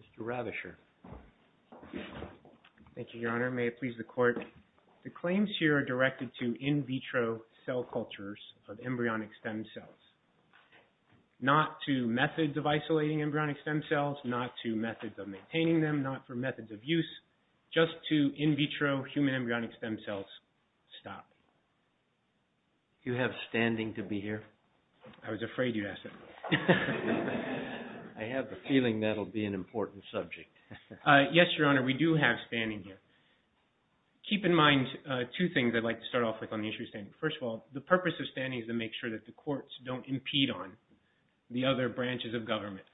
Mr. Rathesher. Thank you, Your Honor. May it please the Court, the claims here are directed to in vitro cell cultures of embryonic stem cells, not to methods of isolating embryonic stem cells, not to methods of maintaining them, not for methods of use, just to in vitro human embryonic stem cells. Stop. Do you have standing to be here? I was afraid you'd ask that. I have the feeling that'll be an important subject. Yes, Your Honor, we do have standing here. Keep in mind two things I'd like to start off with on the issue of standing. First of all, the purpose of standing is to make sure that the courts don't impede on the other branches of government.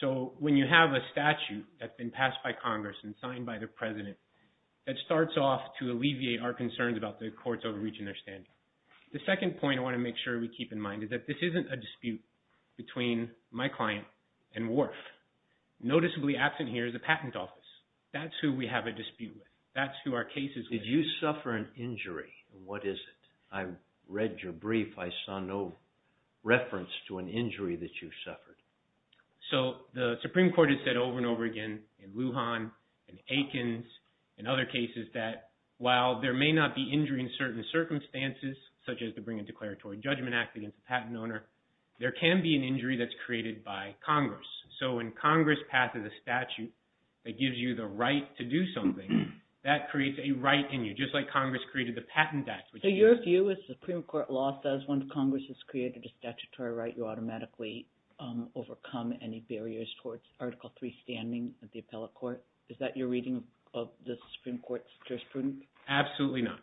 So when you have a statute that's been passed by Congress and signed by the President, that starts off to alleviate our concerns about the courts overreaching their standing. The second point I want to make sure we keep in mind is that this isn't a dispute between my client and WRF. Noticeably absent here is the Patent Office. That's who we have a dispute with. That's who our case is with. Did you suffer an injury? What is it? I read your brief. I saw no reference to an injury that you suffered. So the Supreme Court has said over and over again in Lujan, in Aikens, in other cases that while there may not be injury in certain circumstances, such as to bring a declaratory judgment act against a patent owner, there can be an injury that's created by Congress. So when Congress passes a statute that gives you the right to do something, that creates a right in you, just like Congress created the Patent Act. So your view is the Supreme Court law says when Congress has created a statutory right, you automatically overcome any barriers towards Article III standing at the appellate court? Is that your reading of the Supreme Court's jurisprudence? Absolutely not.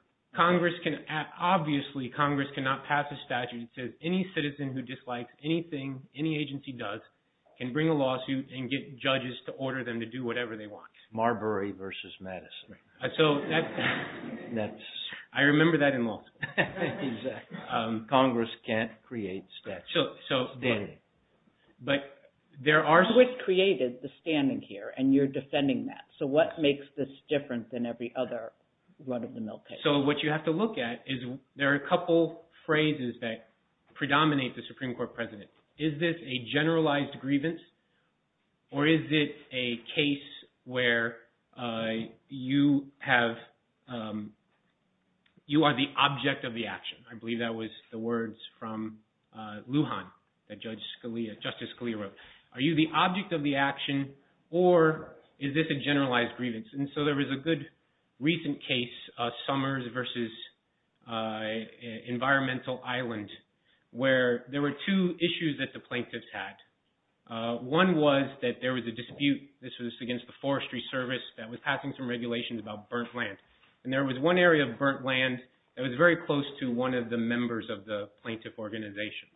Obviously Congress cannot pass a statute that says any citizen who dislikes anything any agency does can bring a lawsuit and get judges to order them to do whatever they want. Marbury versus Madison. I remember that in law school. Congress can't create statutory standing. So it created the standing here, and you're defending that. So what makes this different than every other run-of-the-mill case? So what you have to look at is there are a couple phrases that predominate the Supreme Court precedent. Is this a generalized grievance, or is it a case where you are the object of the action? I believe that was the words from Lujan that Justice Scalia wrote. Are you the object of the action, or is this a generalized grievance? And so there was a good recent case, Summers versus Environmental Island, where there were two issues that the plaintiffs had. One was that there was a dispute. This was against the Forestry Service that was passing some regulations about burnt land. And there was one area of burnt land that was very close to one of the members of the plaintiff organization.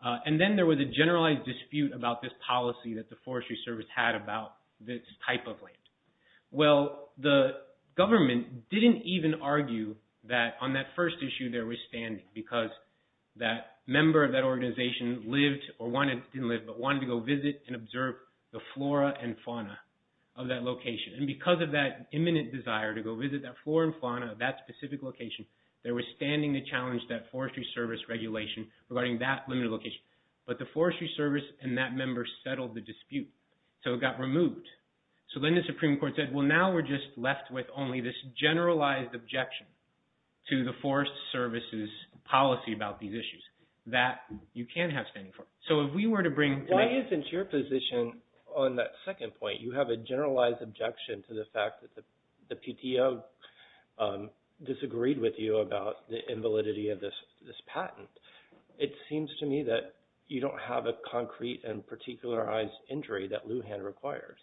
And then there was a generalized dispute about this policy that the Forestry Service had about this type of land. Well, the government didn't even argue that on that first issue there was standing, because that member of that organization lived, or wanted to live, but wanted to go visit and observe the flora and fauna of that location. And because of that imminent desire to go visit that flora and fauna of that specific location, there was standing to challenge that Forestry Service regulation regarding that limited location. But the Forestry Service and that member settled the dispute, so it got removed. So then the Supreme Court said, well, now we're just left with only this generalized objection to the Forest Service's policy about these issues that you can't have standing for. So if we were to bring— Why isn't your position on that second point, you have a generalized objection to the fact that the PTO disagreed with you about the invalidity of this patent. It seems to me that you don't have a concrete and particularized injury that Lujan requires.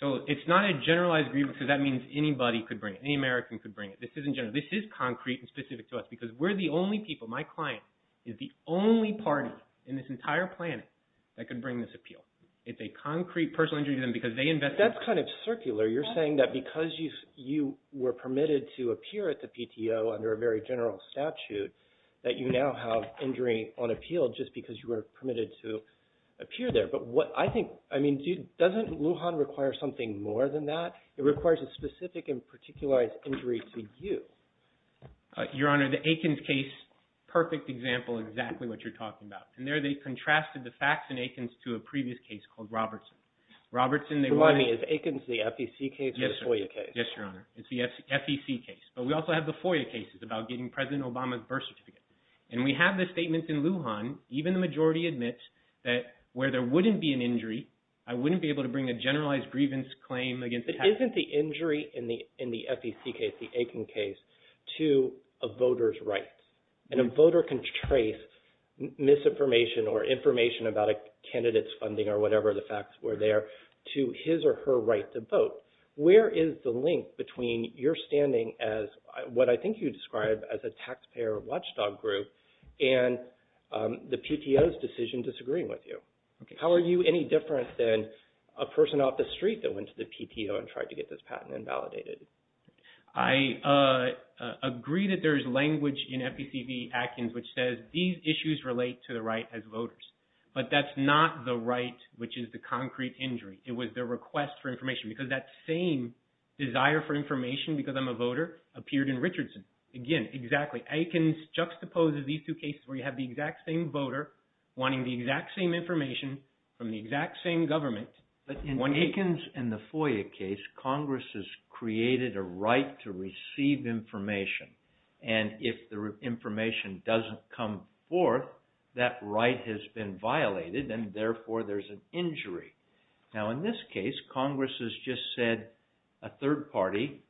So it's not a generalized agreement, because that means anybody could bring it. Any American could bring it. This is concrete and specific to us, because we're the only people, my client, is the only party in this entire planet that could bring this appeal. It's a concrete personal injury to them because they invested— That's kind of circular. You're saying that because you were permitted to appear at the PTO under a very general statute, that you now have injury on appeal just because you were permitted to appear there. But what I think—I mean, doesn't Lujan require something more than that? It requires a specific and particularized injury to you. Your Honor, the Aikens case, perfect example of exactly what you're talking about. And there they contrasted the facts in Aikens to a previous case called Robertson. Robertson— Remind me, is Aikens the FEC case or the FOIA case? Yes, Your Honor. It's the FEC case. But we also have the FOIA cases about getting President Obama's birth certificate. And we have the statements in Lujan. Even the majority admits that where there wouldn't be an injury, I wouldn't be able to bring a generalized grievance claim against the— But isn't the injury in the FEC case, the Aikens case, to a voter's rights? And a voter can trace misinformation or information about a candidate's funding or whatever the facts were there to his or her right to vote. Where is the link between your standing as what I think you describe as a taxpayer watchdog group and the PTO's decision disagreeing with you? How are you any different than a person off the street that went to the PTO and tried to get this patent invalidated? I agree that there is language in FEC v. Aikens which says these issues relate to the right as voters. But that's not the right which is the concrete injury. It was their request for information because that same desire for information, because I'm a voter, appeared in Richardson. Again, exactly. Aikens juxtaposes these two cases where you have the exact same voter wanting the exact same information from the exact same government. But in Aikens and the FOIA case, Congress has created a right to receive information. And if the information doesn't come forth, that right has been violated and therefore there's an injury. Now in this case, Congress has just said a third party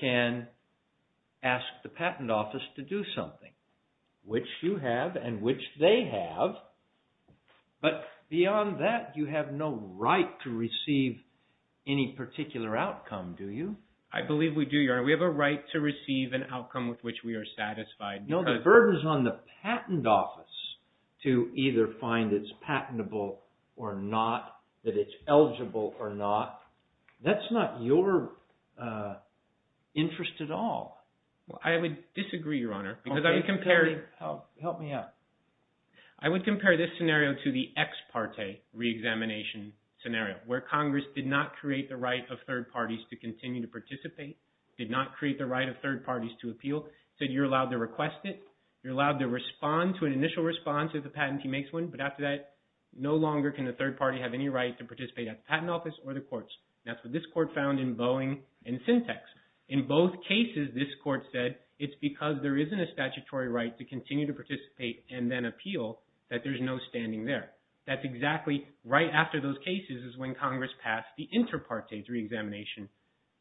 can ask the patent office to do something, which you have and which they have. But beyond that, you have no right to receive any particular outcome, do you? I believe we do, Your Honor. We have a right to receive an outcome with which we are satisfied. No, the burden is on the patent office to either find it's patentable or not, that it's eligible or not. That's not your interest at all. I would disagree, Your Honor, because I would compare... Help me out. I would compare this scenario to the ex parte re-examination scenario where Congress did not create the right of third parties to continue to participate, did not create the right of third parties to appeal, said you're allowed to request it, you're allowed to respond to an initial response if the patentee makes one, but after that, no longer can the third party have any right to participate at the patent office or the courts. That's what this court found in Boeing and Syntex. In both cases, this court said, it's because there isn't a statutory right to continue to participate and then appeal that there's no standing there. That's exactly right after those cases is when Congress passed the inter parte re-examination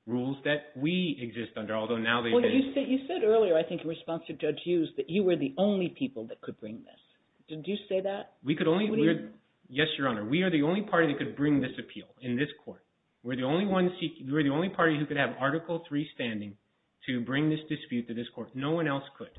rules that we exist under, although now they've been... Well, you said earlier, I think in response to Judge Hughes, that you were the only people that could bring this. Did you say that? We could only... Yes, Your Honor. We are the only party that could bring this appeal in this court. We're the only party who could have Article III standing to bring this dispute to this court. No one else could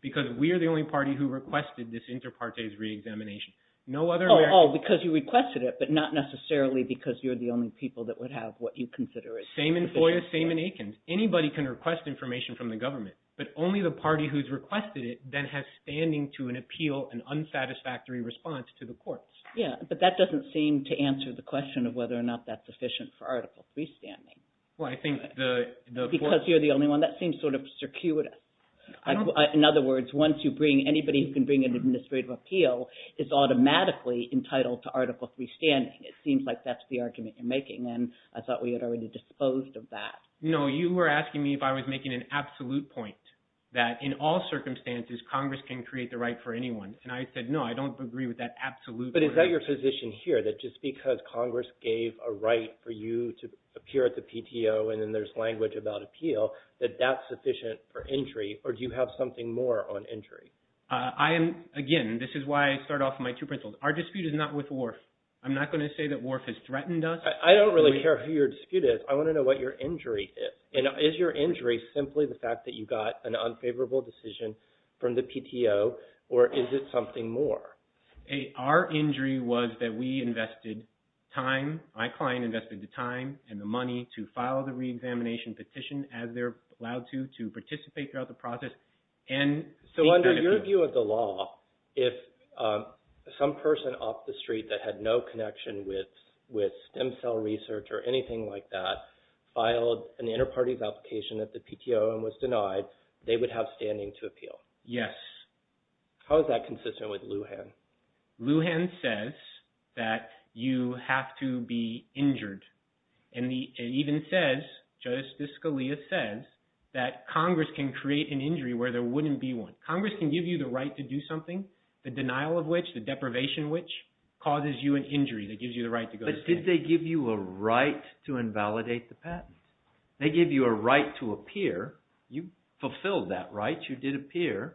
because we are the only party who requested this inter partes re-examination. Oh, because you requested it, but not necessarily because you're the only people that would have what you consider... Same in FOIA, same in Aikens. Anybody can request information from the government, but only the party who's requested it then has standing to an appeal and unsatisfactory response to the courts. Yeah, but that doesn't seem to answer the question of whether or not that's sufficient for Article III standing. Well, I think the... Because you're the only one. That seems sort of circuitous. In other words, once you bring... Anybody who can bring an administrative appeal is automatically entitled to Article III standing. It seems like that's the argument you're making, and I thought we had already disposed of that. No, you were asking me if I was making an absolute point that in all circumstances, Congress can create the right for anyone. And I said, no, I don't agree with that absolute point. But is that your position here, that just because Congress gave a right for you to appear at the PTO and then there's language about appeal, that that's sufficient for injury, or do you have something more on injury? I am, again, this is why I start off with my two pencils. Our dispute is not with WRF. I'm not going to say that WRF has threatened us. I don't really care who your dispute is. I want to know what your injury is. And is your injury simply the fact that you got an unfavorable decision from the PTO, or is it something more? Our injury was that we invested time. My client invested the time and the money to file the reexamination petition, as they're allowed to, to participate throughout the process. So under your view of the law, if some person off the street that had no connection with stem cell research or anything like that filed an inter-parties application at the PTO and was denied, they would have standing to appeal? Yes. How is that consistent with Lujan? Lujan says that you have to be injured. And it even says, Justice Scalia says, that Congress can create an injury where there wouldn't be one. Congress can give you the right to do something, the denial of which, the deprivation of which, but did they give you a right to invalidate the patent? They gave you a right to appear. You fulfilled that right. You did appear.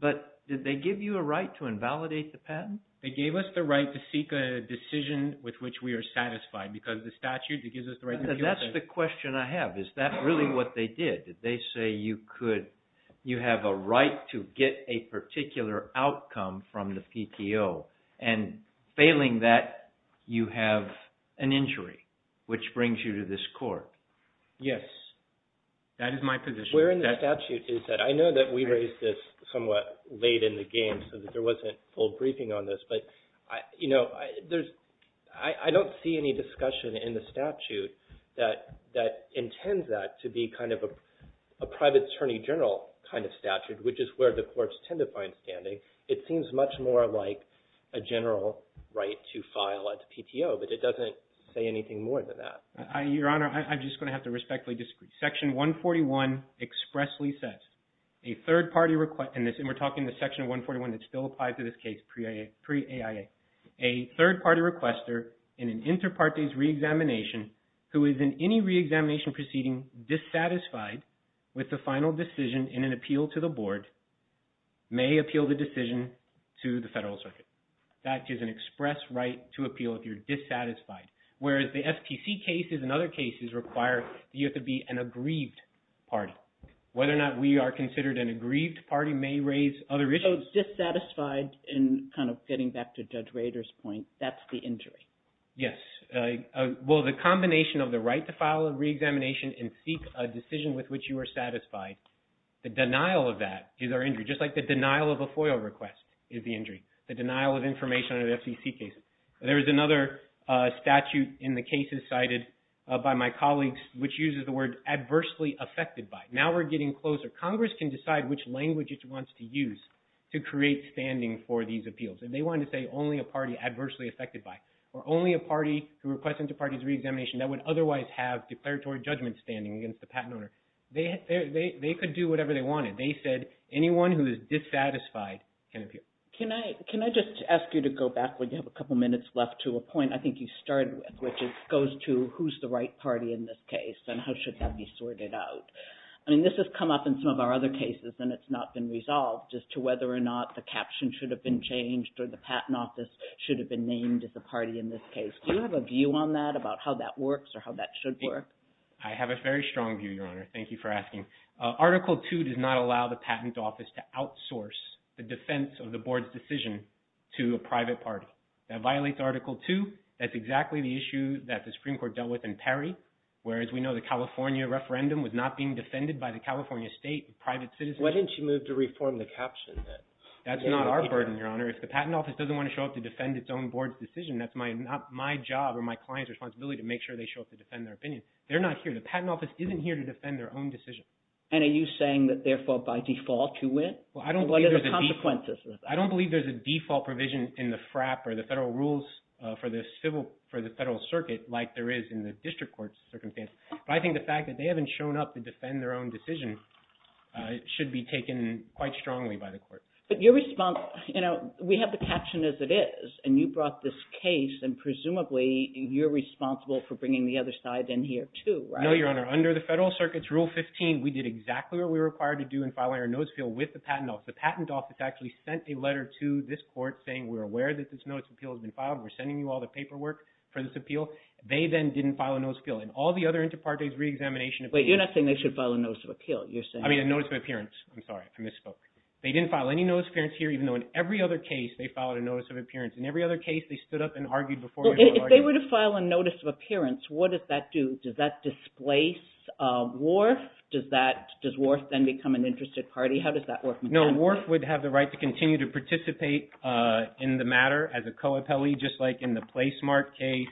But did they give you a right to invalidate the patent? They gave us the right to seek a decision with which we are satisfied because of the statute. It gives us the right to appeal. That's the question I have. Is that really what they did? Did they say you have a right to get a particular outcome from the PTO? And failing that, you have an injury, which brings you to this court. Yes. That is my position. Where in the statute is that? I know that we raised this somewhat late in the game so that there wasn't a full briefing on this. But, you know, I don't see any discussion in the statute that intends that to be kind of a private attorney general kind of statute, which is where the courts tend to find standing. It seems much more like a general right to file at the PTO, but it doesn't say anything more than that. Your Honor, I'm just going to have to respectfully disagree. Section 141 expressly says, and we're talking the Section 141 that still applies to this case pre-AIA, a third-party requester in an inter partes reexamination who is in any reexamination proceeding is dissatisfied with the final decision in an appeal to the Board, may appeal the decision to the Federal Circuit. That is an express right to appeal if you're dissatisfied. Whereas the SPC cases and other cases require that you have to be an aggrieved party. Whether or not we are considered an aggrieved party may raise other issues. So dissatisfied, and kind of getting back to Judge Rader's point, that's the injury? Yes. Well, the combination of the right to file a reexamination and seek a decision with which you are satisfied, the denial of that is our injury, just like the denial of a FOIA request is the injury, the denial of information under the FCC case. There is another statute in the cases cited by my colleagues which uses the word adversely affected by. Now we're getting closer. Congress can decide which language it wants to use to create standing for these appeals. They wanted to say only a party adversely affected by, or only a party who requests inter-parties reexamination that would otherwise have declaratory judgment standing against the patent owner. They could do whatever they wanted. They said anyone who is dissatisfied can appeal. Can I just ask you to go back? We have a couple minutes left to a point I think you started with, which goes to who's the right party in this case and how should that be sorted out? I mean, this has come up in some of our other cases and it's not been resolved as to whether or not the caption should have been changed or the patent office should have been named as a party in this case. Do you have a view on that about how that works or how that should work? I have a very strong view, Your Honor. Thank you for asking. Article 2 does not allow the patent office to outsource the defense of the board's decision to a private party. That violates Article 2. That's exactly the issue that the Supreme Court dealt with in Perry, whereas we know the California referendum was not being defended by the California state and private citizens. Why didn't you move to reform the caption then? That's not our burden, Your Honor. If the patent office doesn't want to show up to defend its own board's decision, that's my job or my client's responsibility to make sure they show up to defend their opinion. They're not here. The patent office isn't here to defend their own decision. And are you saying that therefore by default you win? What are the consequences of that? I don't believe there's a default provision in the FRAP or the federal rules for the federal circuit like there is in the district court's circumstance, but I think the fact that they haven't shown up to defend their own decision should be taken quite strongly by the court. But your response, you know, we have the caption as it is, and you brought this case and presumably you're responsible for bringing the other side in here too, right? No, Your Honor. Under the federal circuit's Rule 15, we did exactly what we were required to do in filing our notice of appeal with the patent office. The patent office actually sent a letter to this court saying we're aware that this notice of appeal has been filed. We're sending you all the paperwork for this appeal. They then didn't file a notice of appeal. And all the other inter partes reexamination appeals Wait, you're not saying they should file a notice of appeal, you're saying I mean a notice of appearance. I'm sorry, I misspoke. They didn't file any notice of appearance here even though in every other case they filed a notice of appearance. In every other case they stood up and argued before If they were to file a notice of appearance, what does that do? Does that displace Wharf? Does Wharf then become an interested party? How does that work? No, Wharf would have the right to continue to participate in the matter as a co-appellee just like in the Placemark case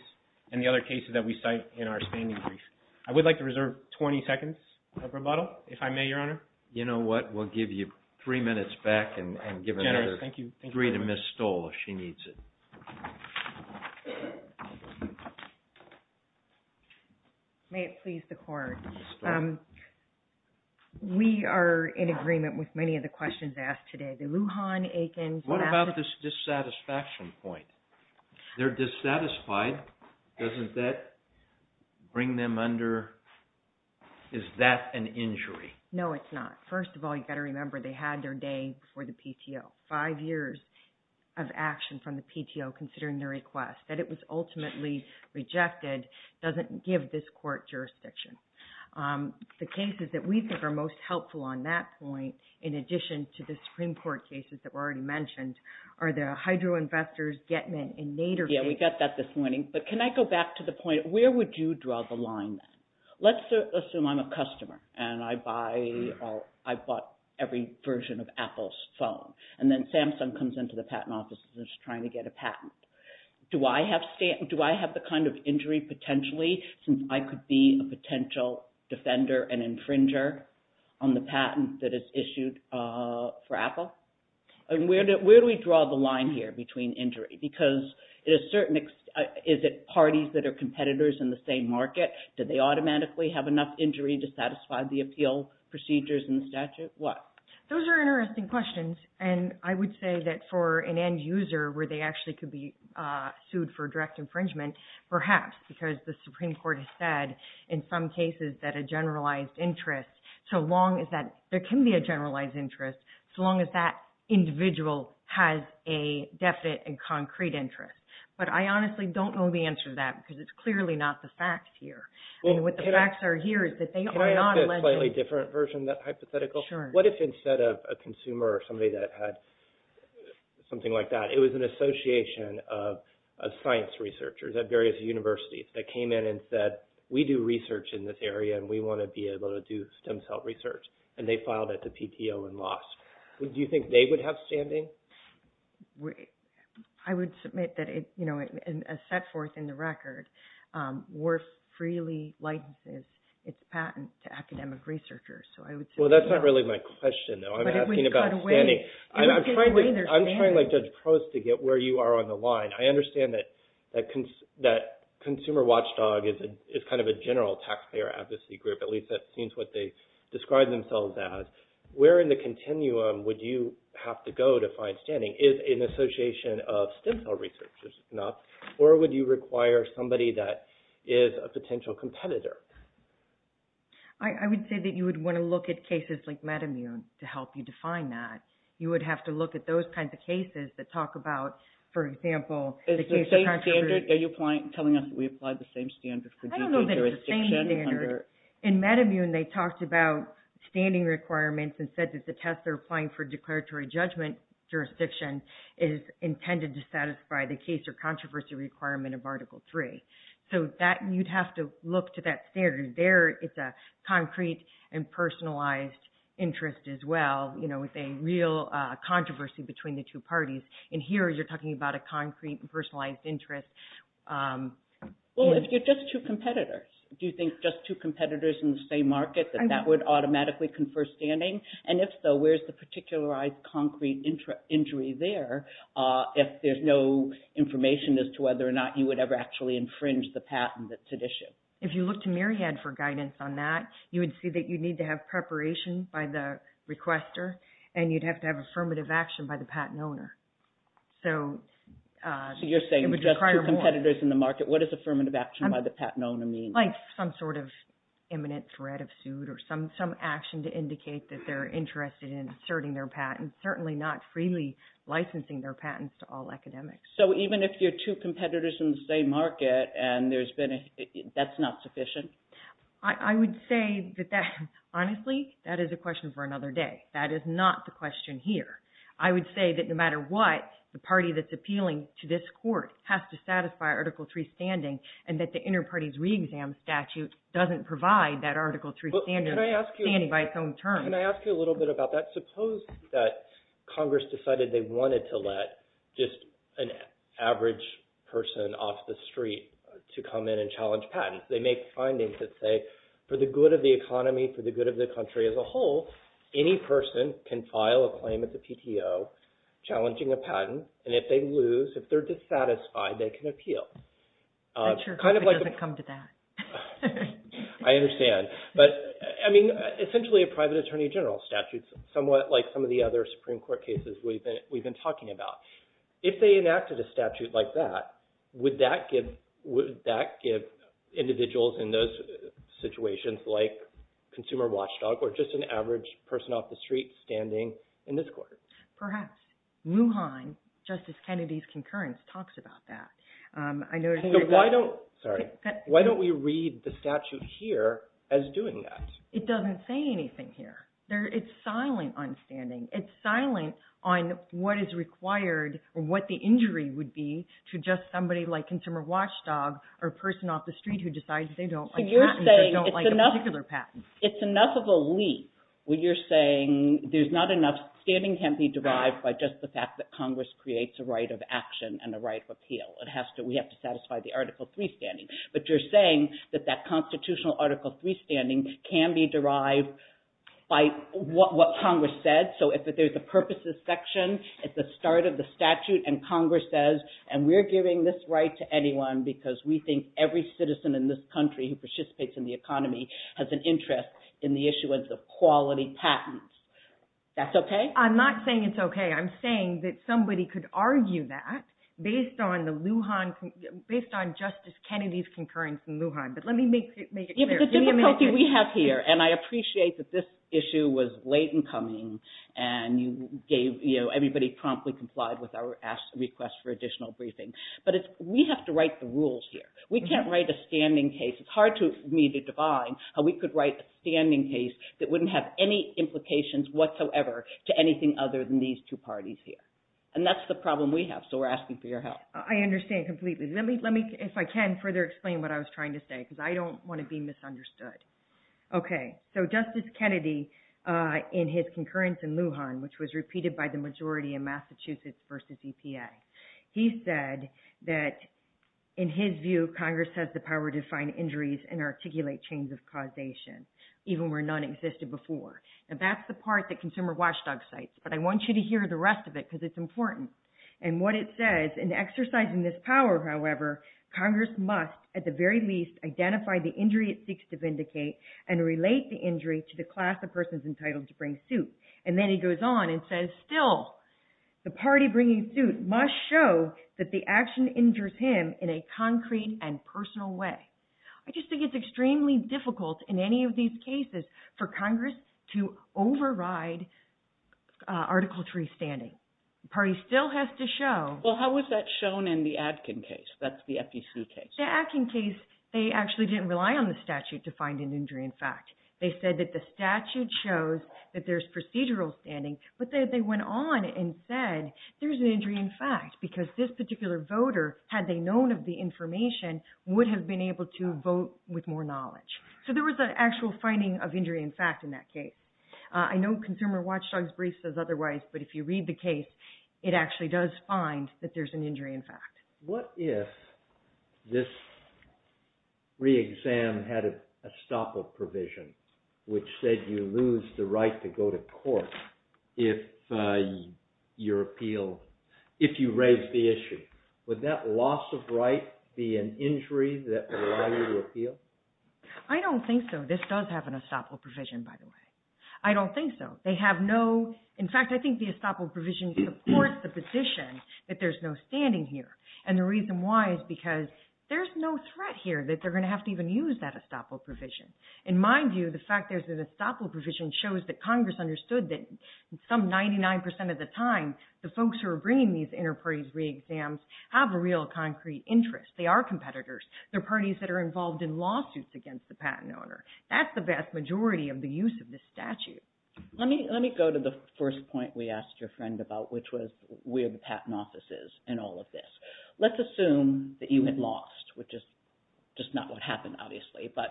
and the other cases that we cite in our standing brief. I would like to reserve 20 seconds of rebuttal if I may, Your Honor. You know what? We'll give you three minutes back and give another three to Ms. Stoll if she needs it. May it please the court. We are in agreement with many of the questions asked today. The Lujan, Aikens What about the dissatisfaction point? They're dissatisfied. Doesn't that bring them under? Is that an injury? No, it's not. First of all, you've got to remember they had their day for the PTO. Five years of action from the PTO considering their request. That it was ultimately rejected doesn't give this court jurisdiction. The cases that we think are most helpful on that point in addition to the Supreme Court cases that were already mentioned are the Hydro Investors, Getman, and Nader cases. Yeah, we got that this morning. But can I go back to the point? Where would you draw the line then? Let's assume I'm a customer and I bought every version of Apple's phone. And then Samsung comes into the patent office and is trying to get a patent. Do I have the kind of injury potentially since I could be a potential defender and infringer on the patent that is issued for Apple? Where do we draw the line here between injury? Because is it parties that are competitors in the same market? Do they automatically have enough injury to satisfy the appeal procedures in the statute? Those are interesting questions. And I would say that for an end user where they actually could be sued for direct infringement, perhaps. Because the Supreme Court has said in some cases that a generalized interest, there can be a generalized interest so long as that individual has a definite and concrete interest. But I honestly don't know the answer to that because it's clearly not the facts here. What the facts are here is that they are not alleged. Can I ask a slightly different version of that hypothetical? Sure. What if instead of a consumer or somebody that had something like that, it was an association of science researchers at various universities that came in and said, we do research in this area and we want to be able to do stem cell research. And they filed it to PTO and lost. Do you think they would have standing? I would submit that a set forth in the record worth freely licenses its patent to academic researchers. So I would submit that. Well, that's not really my question though. I'm asking about standing. I'm trying like Judge Prost to get where you are on the line. I understand that Consumer Watchdog is kind of a general taxpayer advocacy group. At least that seems what they describe themselves as. Where in the continuum would you have to go to find standing? Is an association of stem cell researchers enough? Or would you require somebody that is a potential competitor? I would say that you would want to look at cases like Metamune to help you define that. You would have to look at those kinds of cases that talk about, for example, the case of controversy. Is the same standard? Are you telling us that we apply the same standard? I don't know that it's the same standard. In Metamune, they talked about standing requirements and said that the test they're applying for declaratory judgment jurisdiction is intended to satisfy the case or controversy requirement of Article 3. So you'd have to look to that standard. It's a concrete and personalized interest as well. It's a real controversy between the two parties. And here you're talking about a concrete and personalized interest. Well, if you're just two competitors, do you think just two competitors in the same market, that that would automatically confer standing? And if so, where's the particularized concrete injury there if there's no information as to whether or not you would ever actually infringe the patent that's at issue? If you look to Myriad for guidance on that, you would see that you'd need to have preparation by the requester and you'd have to have affirmative action by the patent owner. So you're saying just two competitors in the market. What does affirmative action by the patent owner mean? Like some sort of imminent threat of suit or some action to indicate that they're interested in inserting their patent. Certainly not freely licensing their patents to all academics. So even if you're two competitors in the same market and that's not sufficient? I would say that honestly, that is a question for another day. That is not the question here. I would say that no matter what, the party that's appealing to this court has to satisfy Article III standing and that the Interparties Re-Exam Statute doesn't provide that Article III standing by its own terms. Can I ask you a little bit about that? Suppose that Congress decided they wanted to let just an average person off the street to come in and challenge patents. They make findings that say for the good of the economy, for the good of the country as a whole, any person can file a claim at the PTO challenging a patent, and if they lose, if they're dissatisfied, they can appeal. I'm sure Congress doesn't come to that. I understand. But, I mean, essentially a private attorney general statute, somewhat like some of the other Supreme Court cases we've been talking about. If they enacted a statute like that, would that give individuals in those situations like consumer watchdog or just an average person off the street standing in this court? Perhaps. Wuhan, Justice Kennedy's concurrence, talks about that. Why don't we read the statute here as doing that? It doesn't say anything here. It's silent on standing. It's silent on what is required or what the injury would be to just somebody like consumer watchdog or a person off the street who decides they don't like patents or don't like a particular patent. It's enough of a leap where you're saying there's not enough. Standing can't be derived by just the fact that Congress creates a right of action and a right of appeal. We have to satisfy the Article III standing. But you're saying that that constitutional Article III standing can be derived by what Congress said. So if there's a purposes section at the start of the statute and Congress says, and we're giving this right to anyone because we think every citizen in this country who participates in the economy has an interest in the issuance of quality patents, that's okay? I'm not saying it's okay. I'm saying that somebody could argue that based on Justice Kennedy's concurrence in Lujan. But let me make it clear. The difficulty we have here, and I appreciate that this issue was late in coming and everybody promptly complied with our request for additional briefing, but we have to write the rules here. We can't write a standing case. It's hard for me to define how we could write a standing case that wouldn't have any implications whatsoever to anything other than these two parties here. And that's the problem we have, so we're asking for your help. I understand completely. Let me, if I can, further explain what I was trying to say because I don't want to be misunderstood. Okay. So Justice Kennedy, in his concurrence in Lujan, which was repeated by the majority in Massachusetts versus EPA, he said that in his view, Congress has the power to find injuries and articulate chains of causation, even where none existed before. Now, that's the part that Consumer Watchdog cites, but I want you to hear the rest of it because it's important. And what it says, in exercising this power, however, Congress must at the very least identify the injury it seeks to vindicate and relate the injury to the class of persons entitled to bring suit. And then he goes on and says, still, the party bringing suit must show that the action injures him in a concrete and personal way. I just think it's extremely difficult in any of these cases for Congress to override Article 3 standing. The party still has to show. Well, how is that shown in the Adkin case? That's the FEC case. The Adkin case, they actually didn't rely on the statute to find an injury in fact. They said that the statute shows that there's procedural standing, but they went on and said there's an injury in fact because this particular voter, had they known of the information, would have been able to vote with more knowledge. So there was an actual finding of injury in fact in that case. I know Consumer Watchdog's brief says otherwise, but if you read the case, it actually does find that there's an injury in fact. What if this re-exam had a stop of provision, which said you lose the right to go to court if you raised the issue? Would that loss of right be an injury that would allow you to appeal? I don't think so. This does have an estoppel provision, by the way. I don't think so. They have no, in fact, I think the estoppel provision supports the position that there's no standing here, and the reason why is because there's no threat here that they're going to have to even use that estoppel provision. In my view, the fact there's an estoppel provision shows that Congress understood that some 99 percent of the time, the folks who are bringing these inter-parties re-exams have a real concrete interest. They are competitors. They're parties that are involved in lawsuits against the patent owner. That's the vast majority of the use of this statute. Let me go to the first point we asked your friend about, which was where the patent office is in all of this. Let's assume that you had lost, which is just not what happened, obviously, but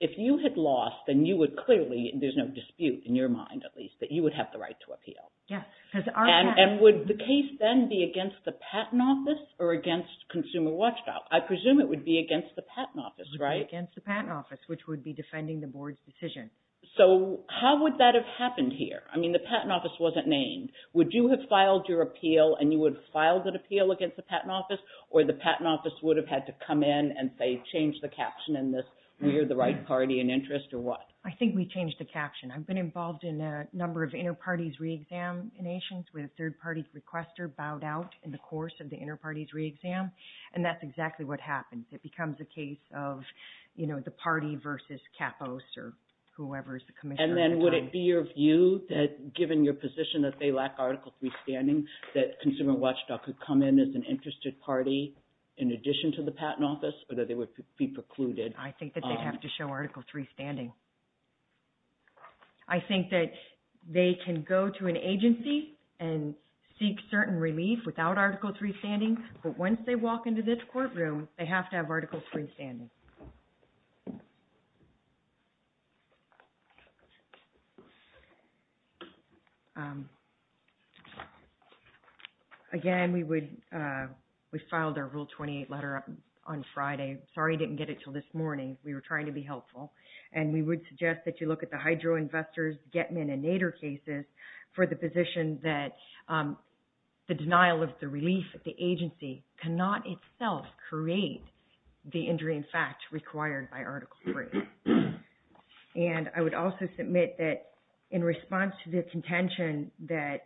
if you had lost, then you would clearly, and there's no dispute in your mind at least, that you would have the right to appeal. Yes. And would the case then be against the patent office or against Consumer Watchdog? I presume it would be against the patent office, right? Against the patent office, which would be defending the board's decision. So how would that have happened here? I mean, the patent office wasn't named. Would you have filed your appeal, and you would have filed an appeal against the patent office, or the patent office would have had to come in and, say, change the caption in this, I think we changed the caption. I've been involved in a number of inter-parties re-examinations where a third-party requester bowed out in the course of the inter-parties re-exam, and that's exactly what happens. It becomes a case of the party versus Capos or whoever is the commissioner. And then would it be your view that, given your position that they lack Article III standing, that Consumer Watchdog could come in as an interested party in addition to the patent office, or that they would be precluded? I think that they'd have to show Article III standing. I think that they can go to an agency and seek certain relief without Article III standing, but once they walk into this courtroom, they have to have Article III standing. Again, we filed our Rule 28 letter on Friday. Sorry we didn't get it until this morning. We were trying to be helpful. And we would suggest that you look at the Hydro Investors, Getman, and Nader cases for the position that the denial of the relief at the agency cannot itself create the injury, in fact, required by Article III. And I would also submit that in response to the contention that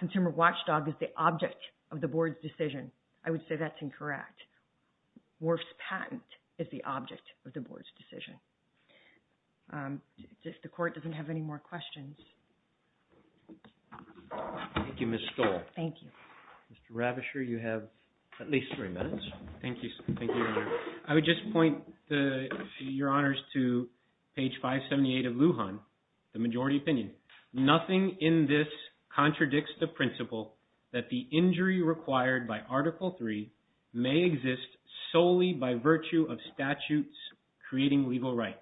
Consumer Watchdog is the object of the board's decision, I would say that's incorrect. Worf's patent is the object of the board's decision. If the Court doesn't have any more questions. Thank you, Ms. Stoll. Thank you. Mr. Ravischer, you have at least three minutes. Thank you, Your Honor. I would just point, Your Honors, to page 578 of Lujan, the majority opinion. Nothing in this contradicts the principle that the injury required by Article III may exist solely by virtue of statutes creating legal rights,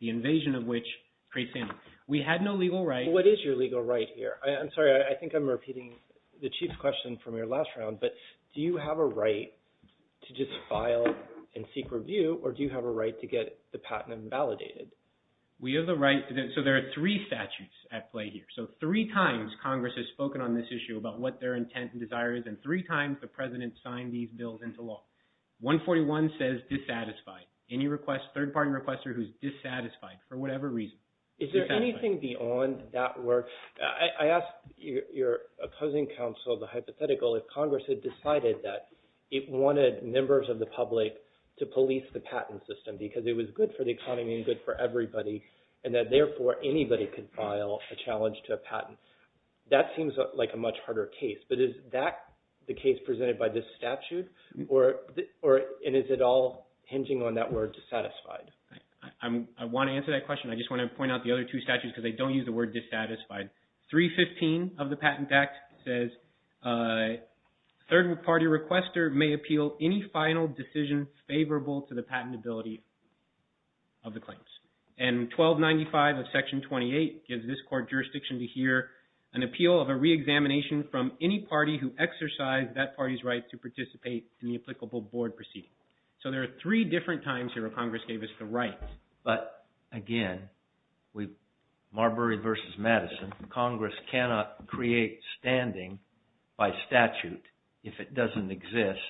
the invasion of which creates any. We had no legal right. What is your legal right here? I'm sorry. I think I'm repeating the chief's question from your last round. But do you have a right to just file and seek review, or do you have a right to get the patent invalidated? We have the right. So there are three statutes at play here. So three times Congress has spoken on this issue about what their intent and desire is, and three times the President signed these bills into law. 141 says dissatisfied. Any request, third-party requester who's dissatisfied for whatever reason. Is there anything beyond that where – I asked your opposing counsel, the hypothetical, if Congress had decided that it wanted members of the public to police the patent system because it was good for the economy and good for everybody and that, therefore, anybody could file a challenge to a patent. That seems like a much harder case. But is that the case presented by this statute, and is it all hinging on that word dissatisfied? I want to answer that question. I just want to point out the other two statutes because I don't use the word dissatisfied. 315 of the Patent Act says third-party requester may appeal any final decision favorable to the patentability of the claims. And 1295 of Section 28 gives this court jurisdiction to hear an appeal of a reexamination from any party who exercised that party's right to participate in the applicable board proceeding. So there are three different times here where Congress gave us the right. But, again, Marbury v. Madison, Congress cannot create standing by statute if it doesn't exist.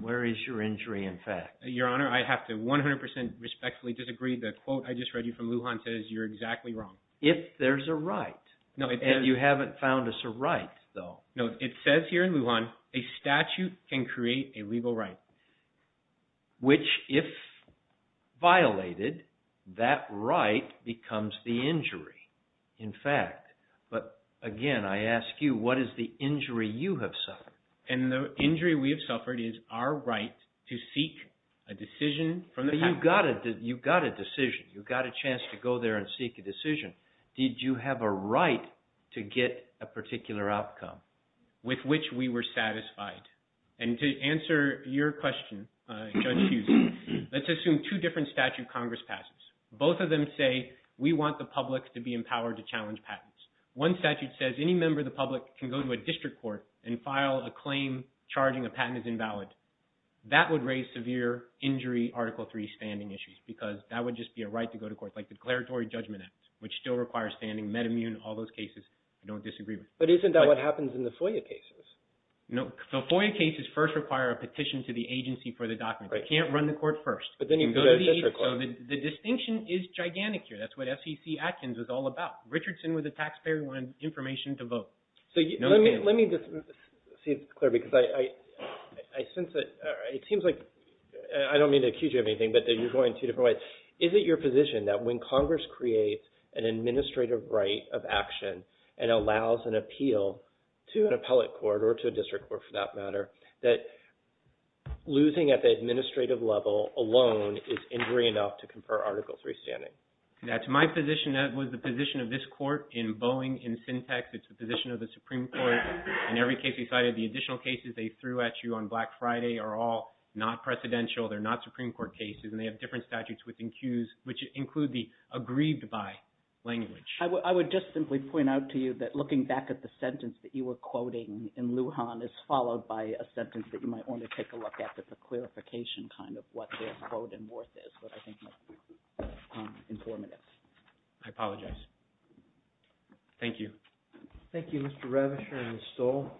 Where is your injury in fact? Your Honor, I have to 100% respectfully disagree. The quote I just read you from Lujan says you're exactly wrong. If there's a right, and you haven't found us a right, though. No, it says here in Lujan a statute can create a legal right. Which, if violated, that right becomes the injury, in fact. But, again, I ask you, what is the injury you have suffered? And the injury we have suffered is our right to seek a decision from the patent. You've got a decision. You've got a chance to go there and seek a decision. Did you have a right to get a particular outcome with which we were satisfied? And to answer your question, Judge Hughes, let's assume two different statute Congress passes. Both of them say we want the public to be empowered to challenge patents. One statute says any member of the public can go to a district court and file a claim charging a patent is invalid. That would raise severe injury Article III standing issues because that would just be a right to go to court, like the declaratory judgment act, which still requires standing, metamune, all those cases I don't disagree with. But isn't that what happens in the FOIA cases? No. The FOIA cases first require a petition to the agency for the document. You can't run the court first. But then you go to a district court. So the distinction is gigantic here. That's what SEC Atkins is all about. Richardson was a taxpayer who wanted information to vote. So let me just see if it's clear because I sense that it seems like I don't mean to accuse you of anything, but you're going two different ways. Is it your position that when Congress creates an administrative right of action and allows an appeal to an appellate court or to a district court, for that matter, that losing at the administrative level alone is injury enough to confer Article III standing? That's my position. That was the position of this court in Boeing, in Syntex. It's the position of the Supreme Court in every case they cited. The additional cases they threw at you on Black Friday are all not precedential. They're not Supreme Court cases, and they have different statutes within CEWS, which include the aggrieved by language. I would just simply point out to you that looking back at the sentence that you were quoting in Lujan is followed by a sentence that you might want to take a look at that's a clarification kind of what their quote and worth is, but I think it's informative. I apologize. Thank you. Thank you, Mr. Ravischer and Ms. Stoll.